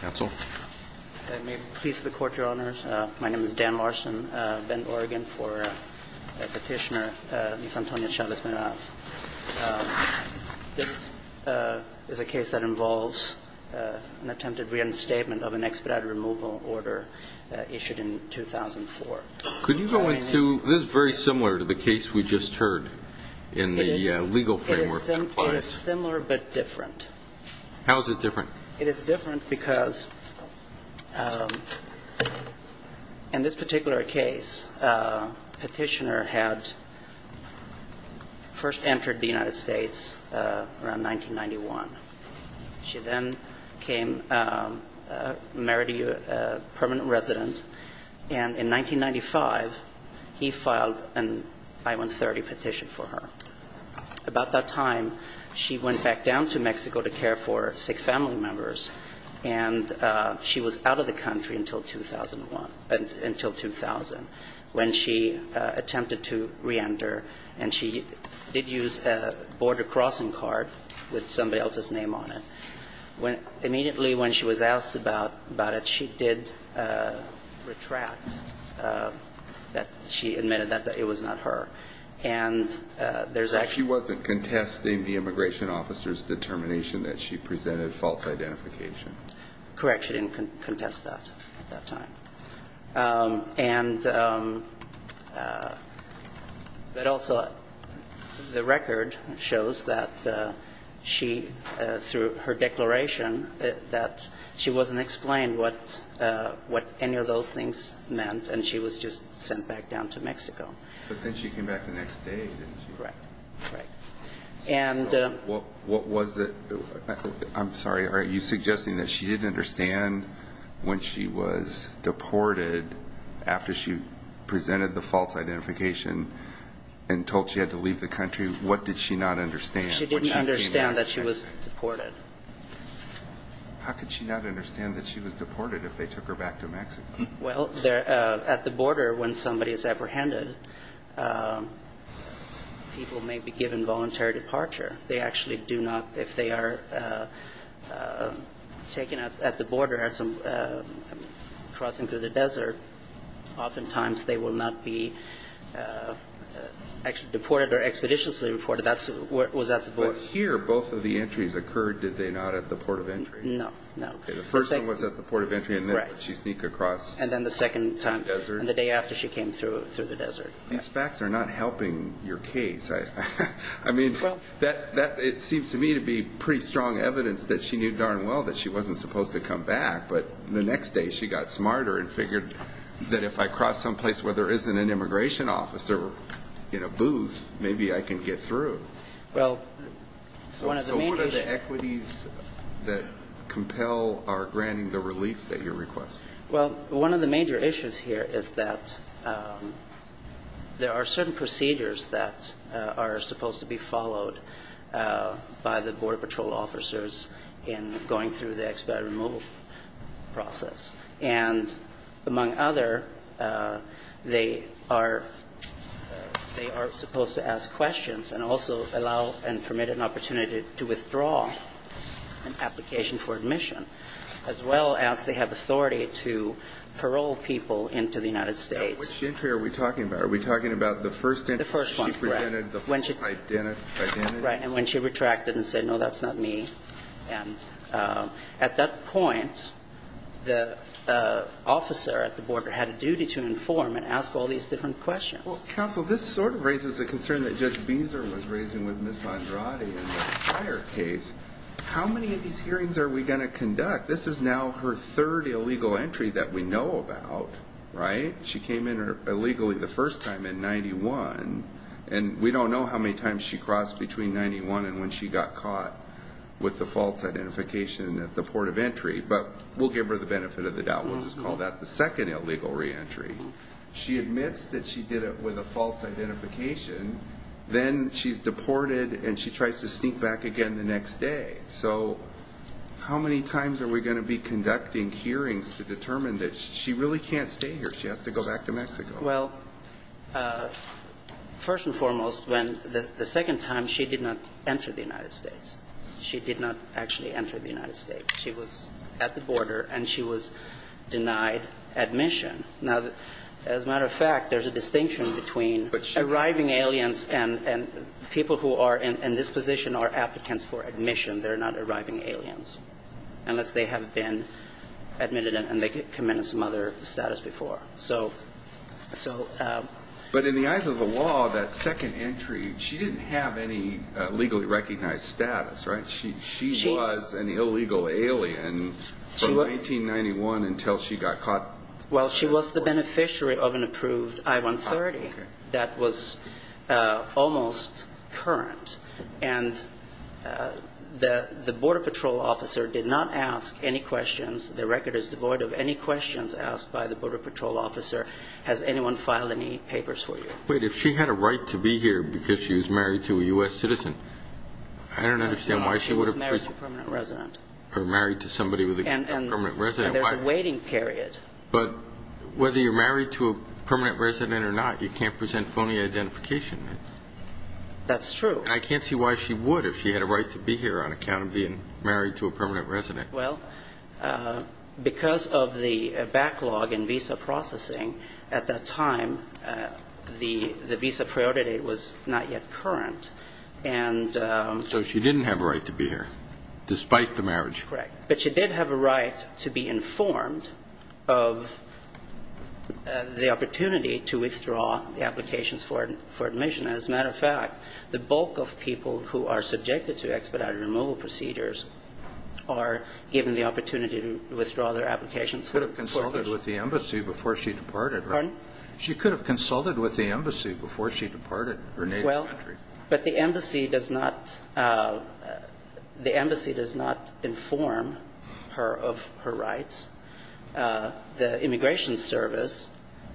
Counsel. May it please the Court, Your Honors. My name is Dan Larson. I've been in Oregon for a petitioner, Ms. Antonia Chavez Meraz. This is a case that involves an attempted reinstatement of an expedited removal order issued in 2004. Could you go into – this is very similar to the case we just heard in the legal framework that applies. It is similar but different. How is it different? It is different because in this particular case, a petitioner had first entered the United States around 1991. She then came, married a permanent resident, and in 1995, he filed an I-130 petition for her. About that time, she went back down to Mexico to care for sick family members. And she was out of the country until 2001 – until 2000 when she attempted to reenter. And she did use a border crossing card with somebody else's name on it. Immediately when she was asked about it, she did retract that she admitted that it was not her. So she wasn't contesting the immigration officer's determination that she presented false identification? Correct. She didn't contest that at that time. But also, the record shows that she, through her declaration, that she wasn't explained what any of those things meant. And she was just sent back down to Mexico. But then she came back the next day, didn't she? Right. Right. And what was the – I'm sorry. Are you suggesting that she didn't understand when she was deported, after she presented the false identification and told she had to leave the country, what did she not understand? She didn't understand that she was deported. How could she not understand that she was deported if they took her back to Mexico? Well, at the border, when somebody is apprehended, people may be given voluntary departure. They actually do not – if they are taken at the border crossing through the desert, oftentimes they will not be deported or expeditiously deported. That was at the border. But here, both of the entries occurred, did they not, at the port of entry? No. No. Okay. The first one was at the port of entry, and then she sneaked across the desert. And then the second time, the day after she came through the desert. These facts are not helping your case. I mean, that – it seems to me to be pretty strong evidence that she knew darn well that she wasn't supposed to come back. But the next day, she got smarter and figured that if I cross someplace where there isn't an immigration officer in a booth, maybe I can get through. Well, one of the major issues – So what are the equities that compel our granting the relief that you're requesting? Well, one of the major issues here is that there are certain procedures that are supposed to be followed by the Border Patrol officers in going through the expat removal process. And among other, they are – they are supposed to ask questions and also allow and permit an opportunity to withdraw an application for admission, as well as they have authority to parole people into the United States. Now, which entry are we talking about? Are we talking about the first entry? The first one, correct. She presented the full identity? Right. And when she retracted and said, no, that's not me. And at that point, the officer at the border had a duty to inform and ask all these different questions. Well, counsel, this sort of raises a concern that Judge Beeser was raising with Ms. Andrade in the prior case. How many of these hearings are we going to conduct? This is now her third illegal entry that we know about, right? She came in illegally the first time in 91, and we don't know how many times she got caught with the false identification at the port of entry. But we'll give her the benefit of the doubt. We'll just call that the second illegal reentry. She admits that she did it with a false identification. Then she's deported, and she tries to sneak back again the next day. So how many times are we going to be conducting hearings to determine that she Well, first and foremost, when the second time, she did not enter the United States. She did not actually enter the United States. She was at the border, and she was denied admission. Now, as a matter of fact, there's a distinction between arriving aliens and people who are in this position are applicants for admission. They're not arriving aliens, unless they have been admitted and they come in as mother status before. But in the eyes of the law, that second entry, she didn't have any legally recognized status, right? She was an illegal alien from 1991 until she got caught. Well, she was the beneficiary of an approved I-130 that was almost current. And the border patrol officer did not ask any questions. The record is devoid of any questions asked by the border patrol officer. Has anyone filed any papers for you? Wait. If she had a right to be here because she was married to a U.S. citizen, I don't understand why she would have been married to somebody with a permanent resident. And there's a waiting period. But whether you're married to a permanent resident or not, you can't present phony identification. That's true. And I can't see why she would if she had a right to be here on account of being married to a permanent resident. Well, because of the backlog in visa processing at that time, the visa priority was not yet current. And so she didn't have a right to be here despite the marriage. Correct. But she did have a right to be informed of the opportunity to withdraw the applications for admission. As a matter of fact, the bulk of people who are subjected to expedited removal procedures are given the opportunity to withdraw their applications. She could have consulted with the embassy before she departed. Pardon? She could have consulted with the embassy before she departed her native country. Well, but the embassy does not inform her of her rights. The Immigration Service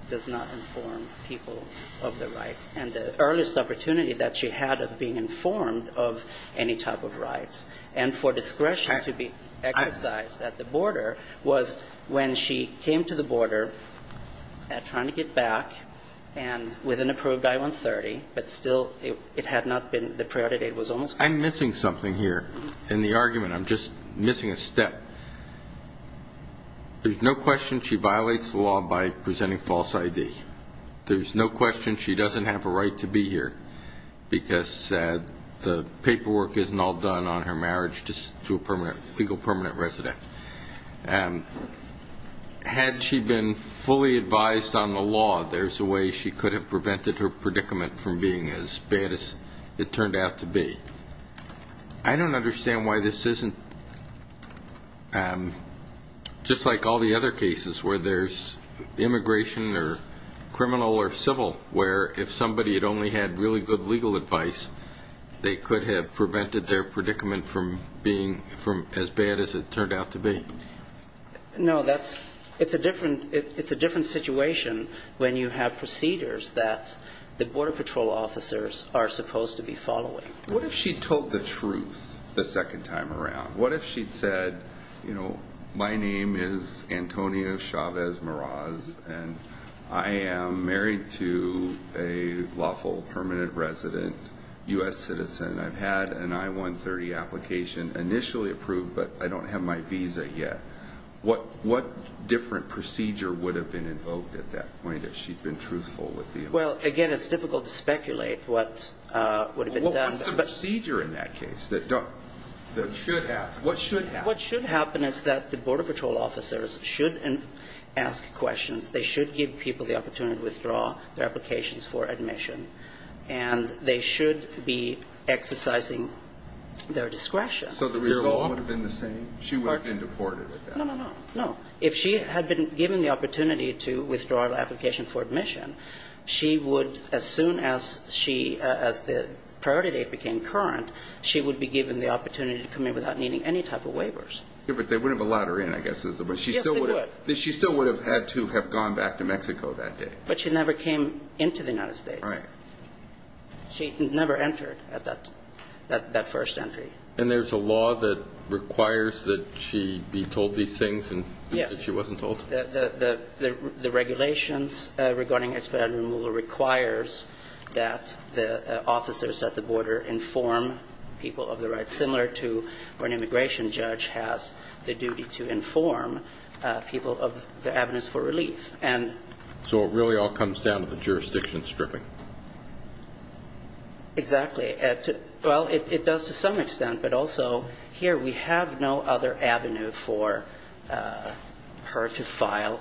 does not inform people of their rights. And the earliest opportunity that she had of being informed of any type of rights and for discretion to be exercised at the border was when she came to the border trying to get back with an approved I-130, but still it had not been the priority. I'm missing something here in the argument. I'm just missing a step. There's no question she violates the law by presenting false ID. There's no question she doesn't have a right to be here because the paperwork isn't all done on her marriage to a legal permanent resident. Had she been fully advised on the law, there's a way she could have prevented her predicament from being as bad as it turned out to be. I don't understand why this isn't just like all the other cases where there's immigration or criminal or civil, where if somebody had only had really good legal advice, they could have prevented their predicament from being as bad as it turned out to be. No, it's a different situation when you have procedures that the Border Patrol officers are supposed to be following. What if she told the truth the second time around? What if she'd said, you know, my name is Antonio Chavez-Moraz and I am married to a lawful permanent resident, U.S. citizen. I've had an I-130 application initially approved, but I don't have my visa yet. What different procedure would have been invoked at that point if she'd been truthful with the application? Well, again, it's difficult to speculate what would have been done. What's the procedure in that case that should happen? What should happen is that the Border Patrol officers should ask questions. They should give people the opportunity to withdraw their applications for admission, and they should be exercising their discretion. So the result would have been the same? She would have been deported at that point? No, no, no. If she had been given the opportunity to withdraw the application for admission, she would, as soon as she, as the priority date became current, she would be given the opportunity to come in without needing any type of waivers. Yeah, but they wouldn't have allowed her in, I guess is the question. Yes, they would. She still would have had to have gone back to Mexico that day. But she never came into the United States. Right. She never entered at that first entry. And there's a law that requires that she be told these things and she wasn't told? Yes. The regulations regarding expedited removal requires that the officers at the border inform people of the right, similar to when an immigration judge has the duty to inform people of the avenues for relief. So it really all comes down to the jurisdiction stripping? Exactly. Well, it does to some extent. But also, here we have no other avenue for her to file.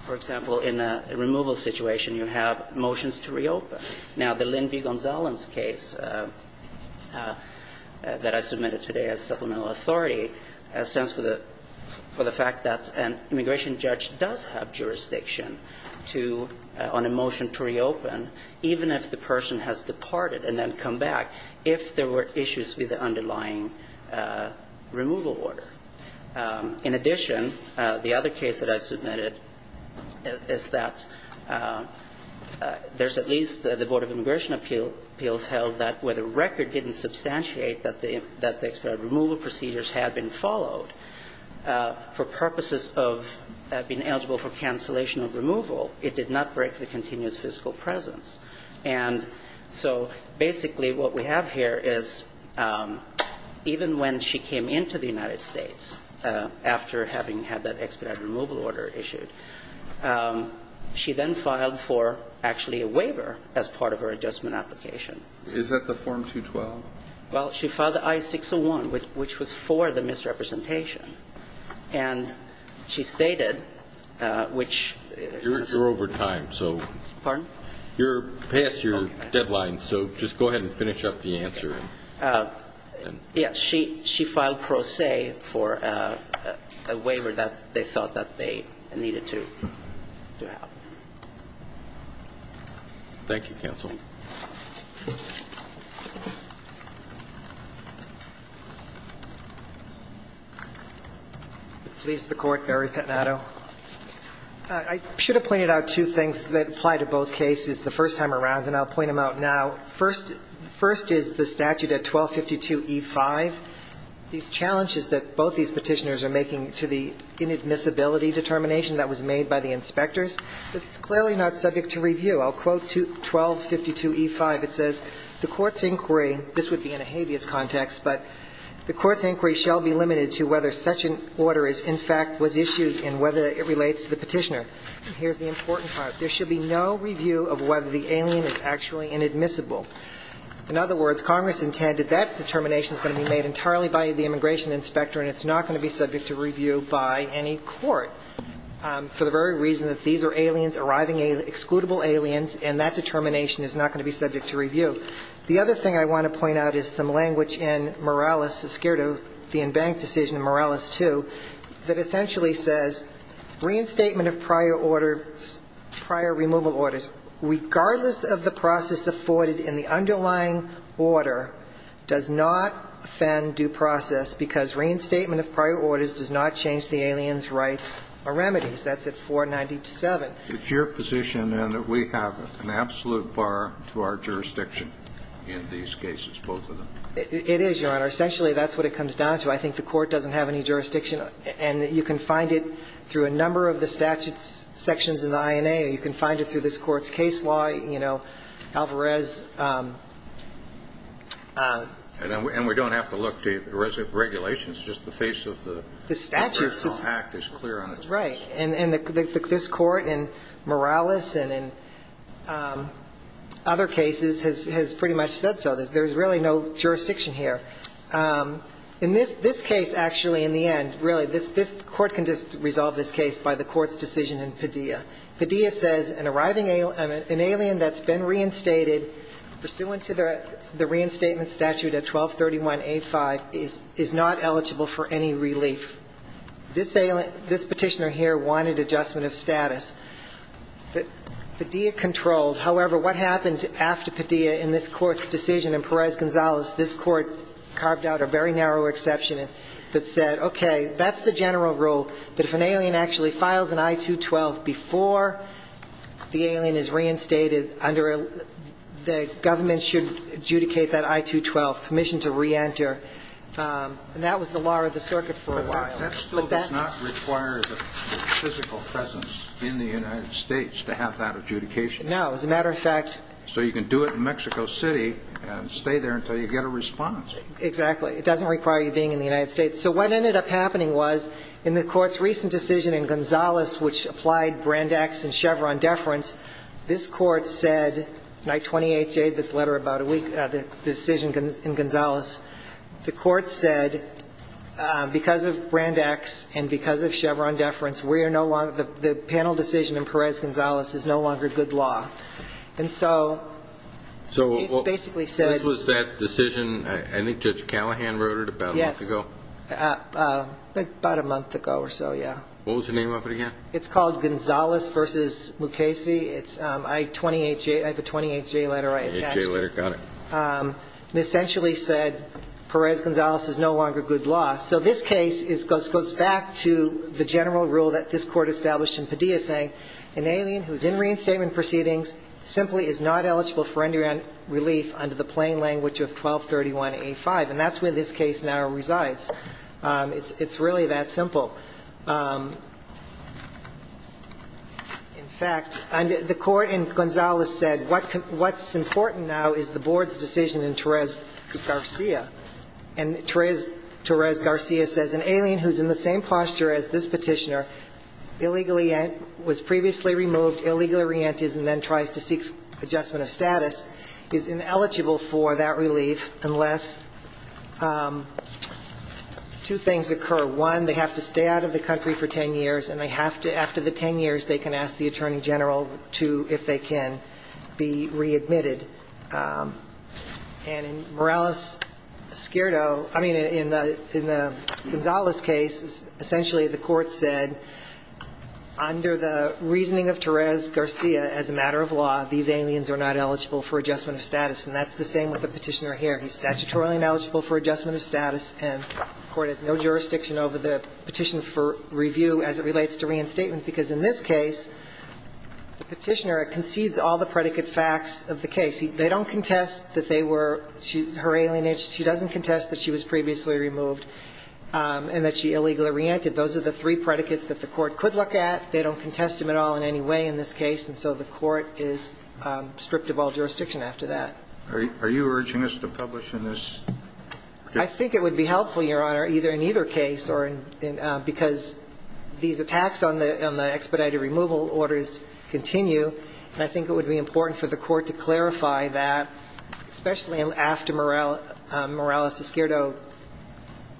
For example, in a removal situation, you have motions to reopen. Now, the Lynn V. Gonzales case that I submitted today as supplemental authority stands for the fact that an immigration judge does have jurisdiction to, on a motion to reopen, even if the person has departed and then come back, if there were issues with the underlying removal order. In addition, the other case that I submitted is that there's at least the Board of Immigration Appeals held that where the record didn't substantiate that the expedited removal procedures had been followed, for purposes of being eligible for cancellation of removal, it did not break the continuous physical presence. And so basically what we have here is even when she came into the United States after having had that expedited removal order issued, she then filed for actually a waiver as part of her adjustment application. Is that the Form 212? Well, she filed the I-601, which was for the misrepresentation. And she stated, which... You're over time, so... Pardon? You're past your deadline, so just go ahead and finish up the answer. Yeah, she filed pro se for a waiver that they thought that they needed to have. Thank you, Counsel. Please, the Court. Barry Pettinato. I should have pointed out two things that apply to both cases the first time around, and I'll point them out now. First is the statute at 1252e5. These challenges that both these Petitioners are making to the inadmissibility determination that was made by the inspectors, it's clearly not subject to review. I'll quote 1252e5. It says, And here's the important part. There should be no review of whether the alien is actually inadmissible. In other words, Congress intended that determination is going to be made entirely by the immigration inspector, and it's not going to be subject to review by any court for the very reason that these are aliens, arriving aliens, excludable aliens, The other thing I want to point out is some language in Morales, the in-bank decision in Morales 2, that essentially says reinstatement of prior orders, prior removal orders, regardless of the process afforded in the underlying order, does not offend due process because reinstatement of prior orders does not change the alien's rights or remedies. That's at 497. It's your position, then, that we have an absolute bar to our jurisdiction in these cases, both of them. It is, Your Honor. Essentially, that's what it comes down to. I think the Court doesn't have any jurisdiction. And you can find it through a number of the statutes sections in the INA, or you can find it through this Court's case law, you know, Alvarez. And we don't have to look to regulations. It's just the face of the Act is clear on its face. Right. And this Court in Morales and in other cases has pretty much said so. There's really no jurisdiction here. In this case, actually, in the end, really, this Court can just resolve this case by the Court's decision in Padilla. Padilla says an arriving alien, an alien that's been reinstated, pursuant to the reinstatement statute at 1231A5, is not eligible for any relief. This petitioner here wanted adjustment of status. Padilla controlled. However, what happened after Padilla in this Court's decision in Perez-Gonzalez, this Court carved out a very narrow exception that said, okay, that's the general rule, but if an alien actually files an I-212 before the alien is reinstated under the government should adjudicate that I-212, permission to reenter. And that was the law of the circuit for a while. But that still does not require the physical presence in the United States to have that adjudication. No. As a matter of fact. So you can do it in Mexico City and stay there until you get a response. Exactly. It doesn't require you being in the United States. So what ended up happening was in the Court's recent decision in Gonzalez, which applied Brand X and Chevron deference, this Court said, night 28J, this letter about a week, the decision in Gonzalez, the Court said because of Brand X and because of Chevron deference, we are no longer, the panel decision in Perez-Gonzalez is no longer good law. And so it basically said. So this was that decision, I think Judge Callahan wrote it about a month ago. Yes. About a month ago or so, yeah. What was the name of it again? It's called Gonzalez v. Mukasey. It's I-28J, I have a 28J letter I attached. 28J letter, got it. It essentially said Perez-Gonzalez is no longer good law. So this case goes back to the general rule that this Court established in Padilla saying an alien who is in reinstatement proceedings simply is not eligible for endurance relief under the plain language of 1231A5. And that's where this case now resides. It's really that simple. In fact, the Court in Gonzalez said what's important now is the Board's decision in Torres-Garcia. And Torres-Garcia says an alien who is in the same posture as this Petitioner, illegally was previously removed, illegally re-enters and then tries to seek adjustment of status, is ineligible for that relief unless two things occur. One, they have to stay on trial. They have to stay out of the country for 10 years. And they have to, after the 10 years, they can ask the Attorney General to, if they can, be readmitted. And in Morales-Skirto, I mean, in the Gonzalez case, essentially the Court said under the reasoning of Torres-Garcia, as a matter of law, these aliens are not eligible for adjustment of status. And that's the same with the Petitioner here. He's statutorily ineligible for adjustment of status, and the Court has no jurisdiction over the petition for review as it relates to reinstatement. Because in this case, the Petitioner concedes all the predicate facts of the case. They don't contest that they were her alien age. She doesn't contest that she was previously removed and that she illegally re-entered. Those are the three predicates that the Court could look at. They don't contest them at all in any way in this case. And so the Court is stripped of all jurisdiction after that. Are you urging us to publish in this case? I think it would be helpful, Your Honor, either in either case, because these attacks on the expedited removal orders continue. And I think it would be important for the Court to clarify that, especially after Morales-Skirto,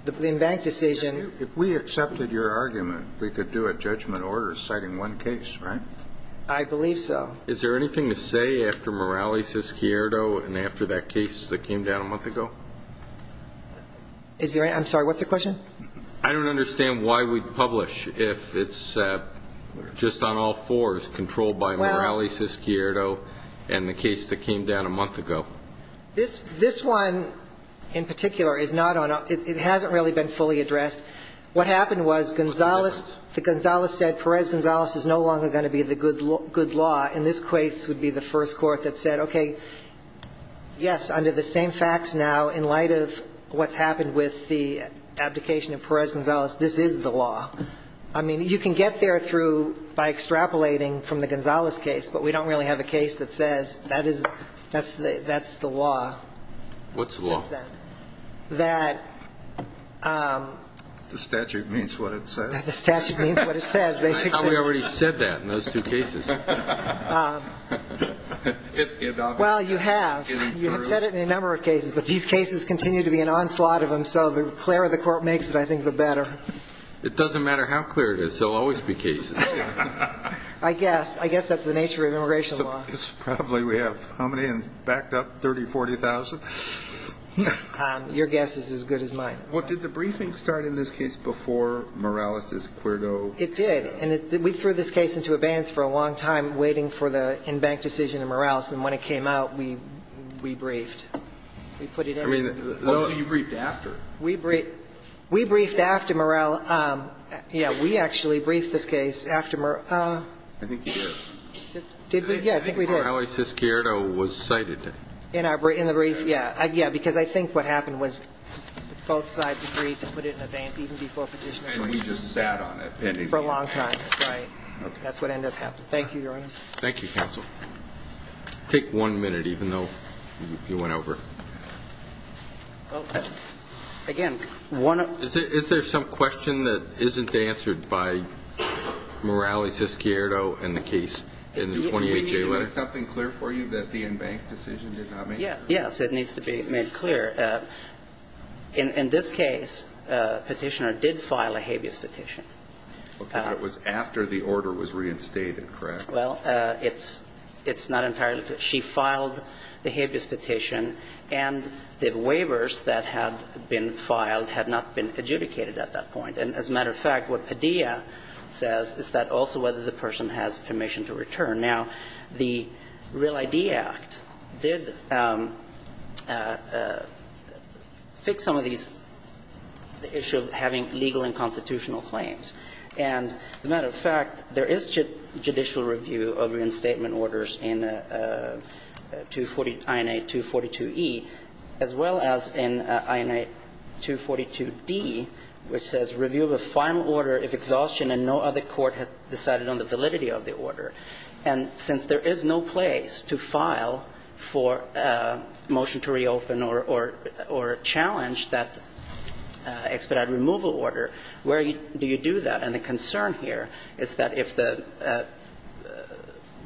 the in-bank decision. If we accepted your argument, we could do a judgment order citing one case, right? I believe so. Is there anything to say after Morales-Skirto and after that case that came down a month ago? Is there any? I'm sorry, what's the question? I don't understand why we'd publish if it's just on all fours, controlled by Morales-Skirto and the case that came down a month ago. This one in particular is not on a ñ it hasn't really been fully addressed. What happened was Gonzales ñ the Gonzales said Perez-Gonzales is no longer going to be the good law. And this case would be the first court that said, okay, yes, under the same facts now, in light of what's happened with the abdication of Perez-Gonzales, this is the law. I mean, you can get there through by extrapolating from the Gonzales case, but we don't really have a case that says that's the law. What's the law? Since then. The statute means what it says. The statute means what it says, basically. I thought we already said that in those two cases. Well, you have. You have said it in a number of cases. But these cases continue to be an onslaught of them, so the clearer the court makes it, I think, the better. It doesn't matter how clear it is. There will always be cases. I guess. I guess that's the nature of immigration law. Probably we have how many? Backed up, 30,000, 40,000? Your guess is as good as mine. Did the briefing start in this case before Morales-Skirto? It did. And we threw this case into abeyance for a long time, waiting for the in-bank decision in Morales. And when it came out, we briefed. We put it in. So you briefed after? We briefed after Morales. Yeah. We actually briefed this case after Morales. I think you did. Did we? Yeah, I think we did. I think Morales-Skirto was cited. In the brief? Yeah. Yeah, because I think what happened was both sides agreed to put it in abeyance even before Petitioner. And he just sat on it. For a long time. Right. That's what ended up happening. Thank you, Your Honor. Thank you, Counsel. Take one minute, even though you went over. Again, one of the... Is there some question that isn't answered by Morales-Skirto in the case, in the 28-J letter? Do we need to make something clear for you that the in-bank decision did not make? Yes, it needs to be made clear. In this case, Petitioner did file a habeas petition. Okay. But it was after the order was reinstated, correct? Well, it's not entirely. She filed the habeas petition, and the waivers that had been filed had not been adjudicated at that point. And as a matter of fact, what Padilla says is that also whether the person has permission to return. Now, the Real ID Act did fix some of these, the issue of having legal and constitutional claims. And as a matter of fact, there is judicial review of reinstatement orders in INA 242E, as well as in INA 242D, which says review of a final order if exhaustion and no other order. And since there is no place to file for a motion to reopen or challenge that expedite removal order, where do you do that? And the concern here is that if the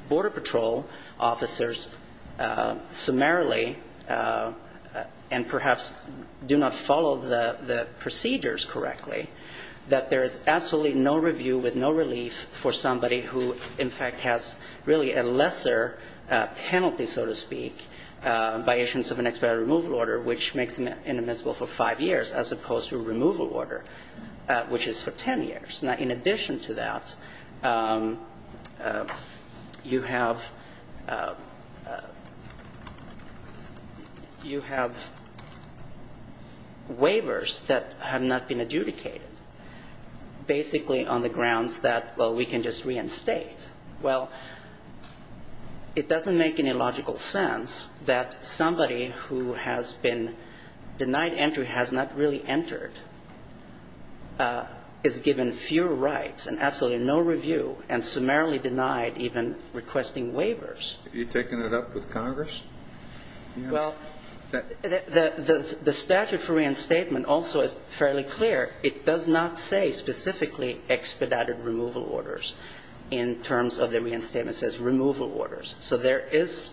Border Patrol officers summarily and perhaps do not follow the procedures correctly, that there is absolutely no review with no relief for somebody who, in fact, has really a lesser penalty, so to speak, by issuance of an expedite removal order, which makes them inadmissible for 5 years, as opposed to a removal order, which is for 10 years. Now, in addition to that, you have, you have waivers that have not been adjudicated basically on the grounds that, well, we can just reinstate. Well, it doesn't make any logical sense that somebody who has been denied entry has not really entered, is given fewer rights and absolutely no review, and summarily denied even requesting waivers. Have you taken it up with Congress? Well, the statute for reinstatement also is fairly clear. It does not say specifically expedited removal orders in terms of the reinstatement says removal orders. So there is,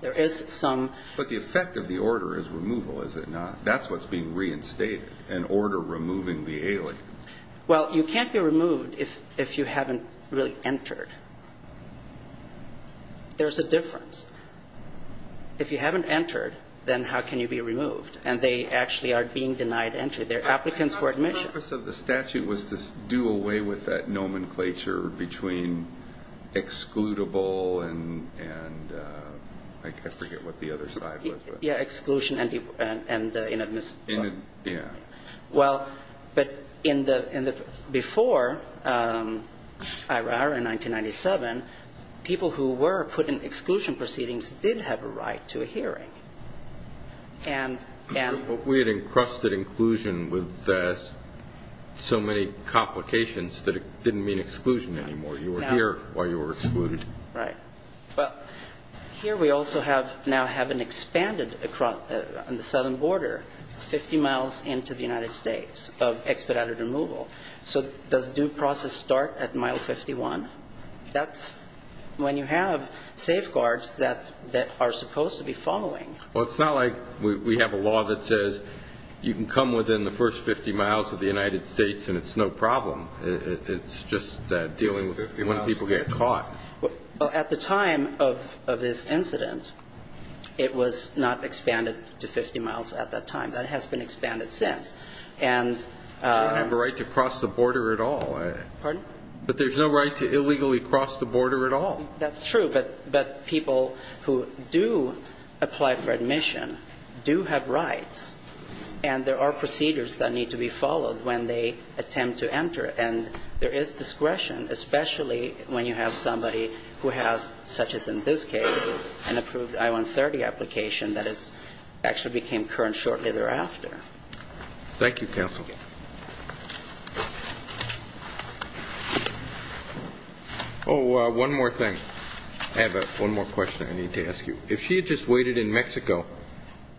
there is some. But the effect of the order is removal, is it not? That's what's being reinstated, an order removing the alien. Well, you can't be removed if you haven't really entered. There's a difference. If you haven't entered, then how can you be removed? And they actually are being denied entry. They're applicants for admission. The purpose of the statute was to do away with that nomenclature between excludable and, like, I forget what the other side was. Yeah, exclusion and inadmissible. Yeah. Well, but in the, before IRR in 1997, people who were put in exclusion proceedings did have a right to a hearing. And we had encrusted inclusion with so many complications that it didn't mean exclusion anymore. You were here while you were excluded. Right. Well, here we also have now have an expanded, on the southern border, 50 miles into the United States of expedited removal. So does due process start at mile 51? That's when you have safeguards that are supposed to be following. Well, it's not like we have a law that says you can come within the first 50 miles of the United States and it's no problem. It's just dealing with when people get caught. Well, at the time of this incident, it was not expanded to 50 miles at that time. That has been expanded since. And the right to cross the border at all. Pardon? But there's no right to illegally cross the border at all. That's true. But people who do apply for admission do have rights. And there are procedures that need to be followed when they attempt to enter. And there is discretion, especially when you have somebody who has, such as in this case, an approved I-130 application that is actually became current shortly thereafter. Thank you, counsel. Oh, one more thing. I have one more question I need to ask you. If she had just waited in Mexico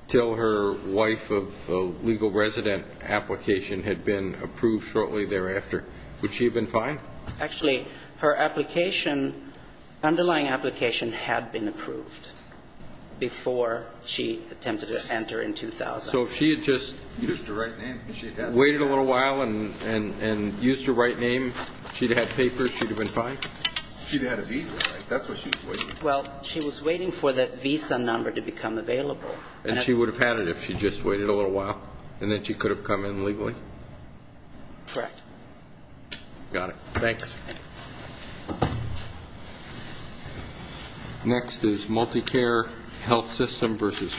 until her wife of a legal resident application had been approved shortly thereafter, would she have been fine? Actually, her application, underlying application had been approved before she attempted to enter in 2000. So if she had just waited a little while and used her right name, she'd have had papers, she'd have been fine? She'd have had a visa. That's what she was waiting for. Well, she was waiting for that visa number to become available. And she would have had it if she just waited a little while. And then she could have come in legally? Correct. Got it. Thanks. Next is multi-care health system versus family health.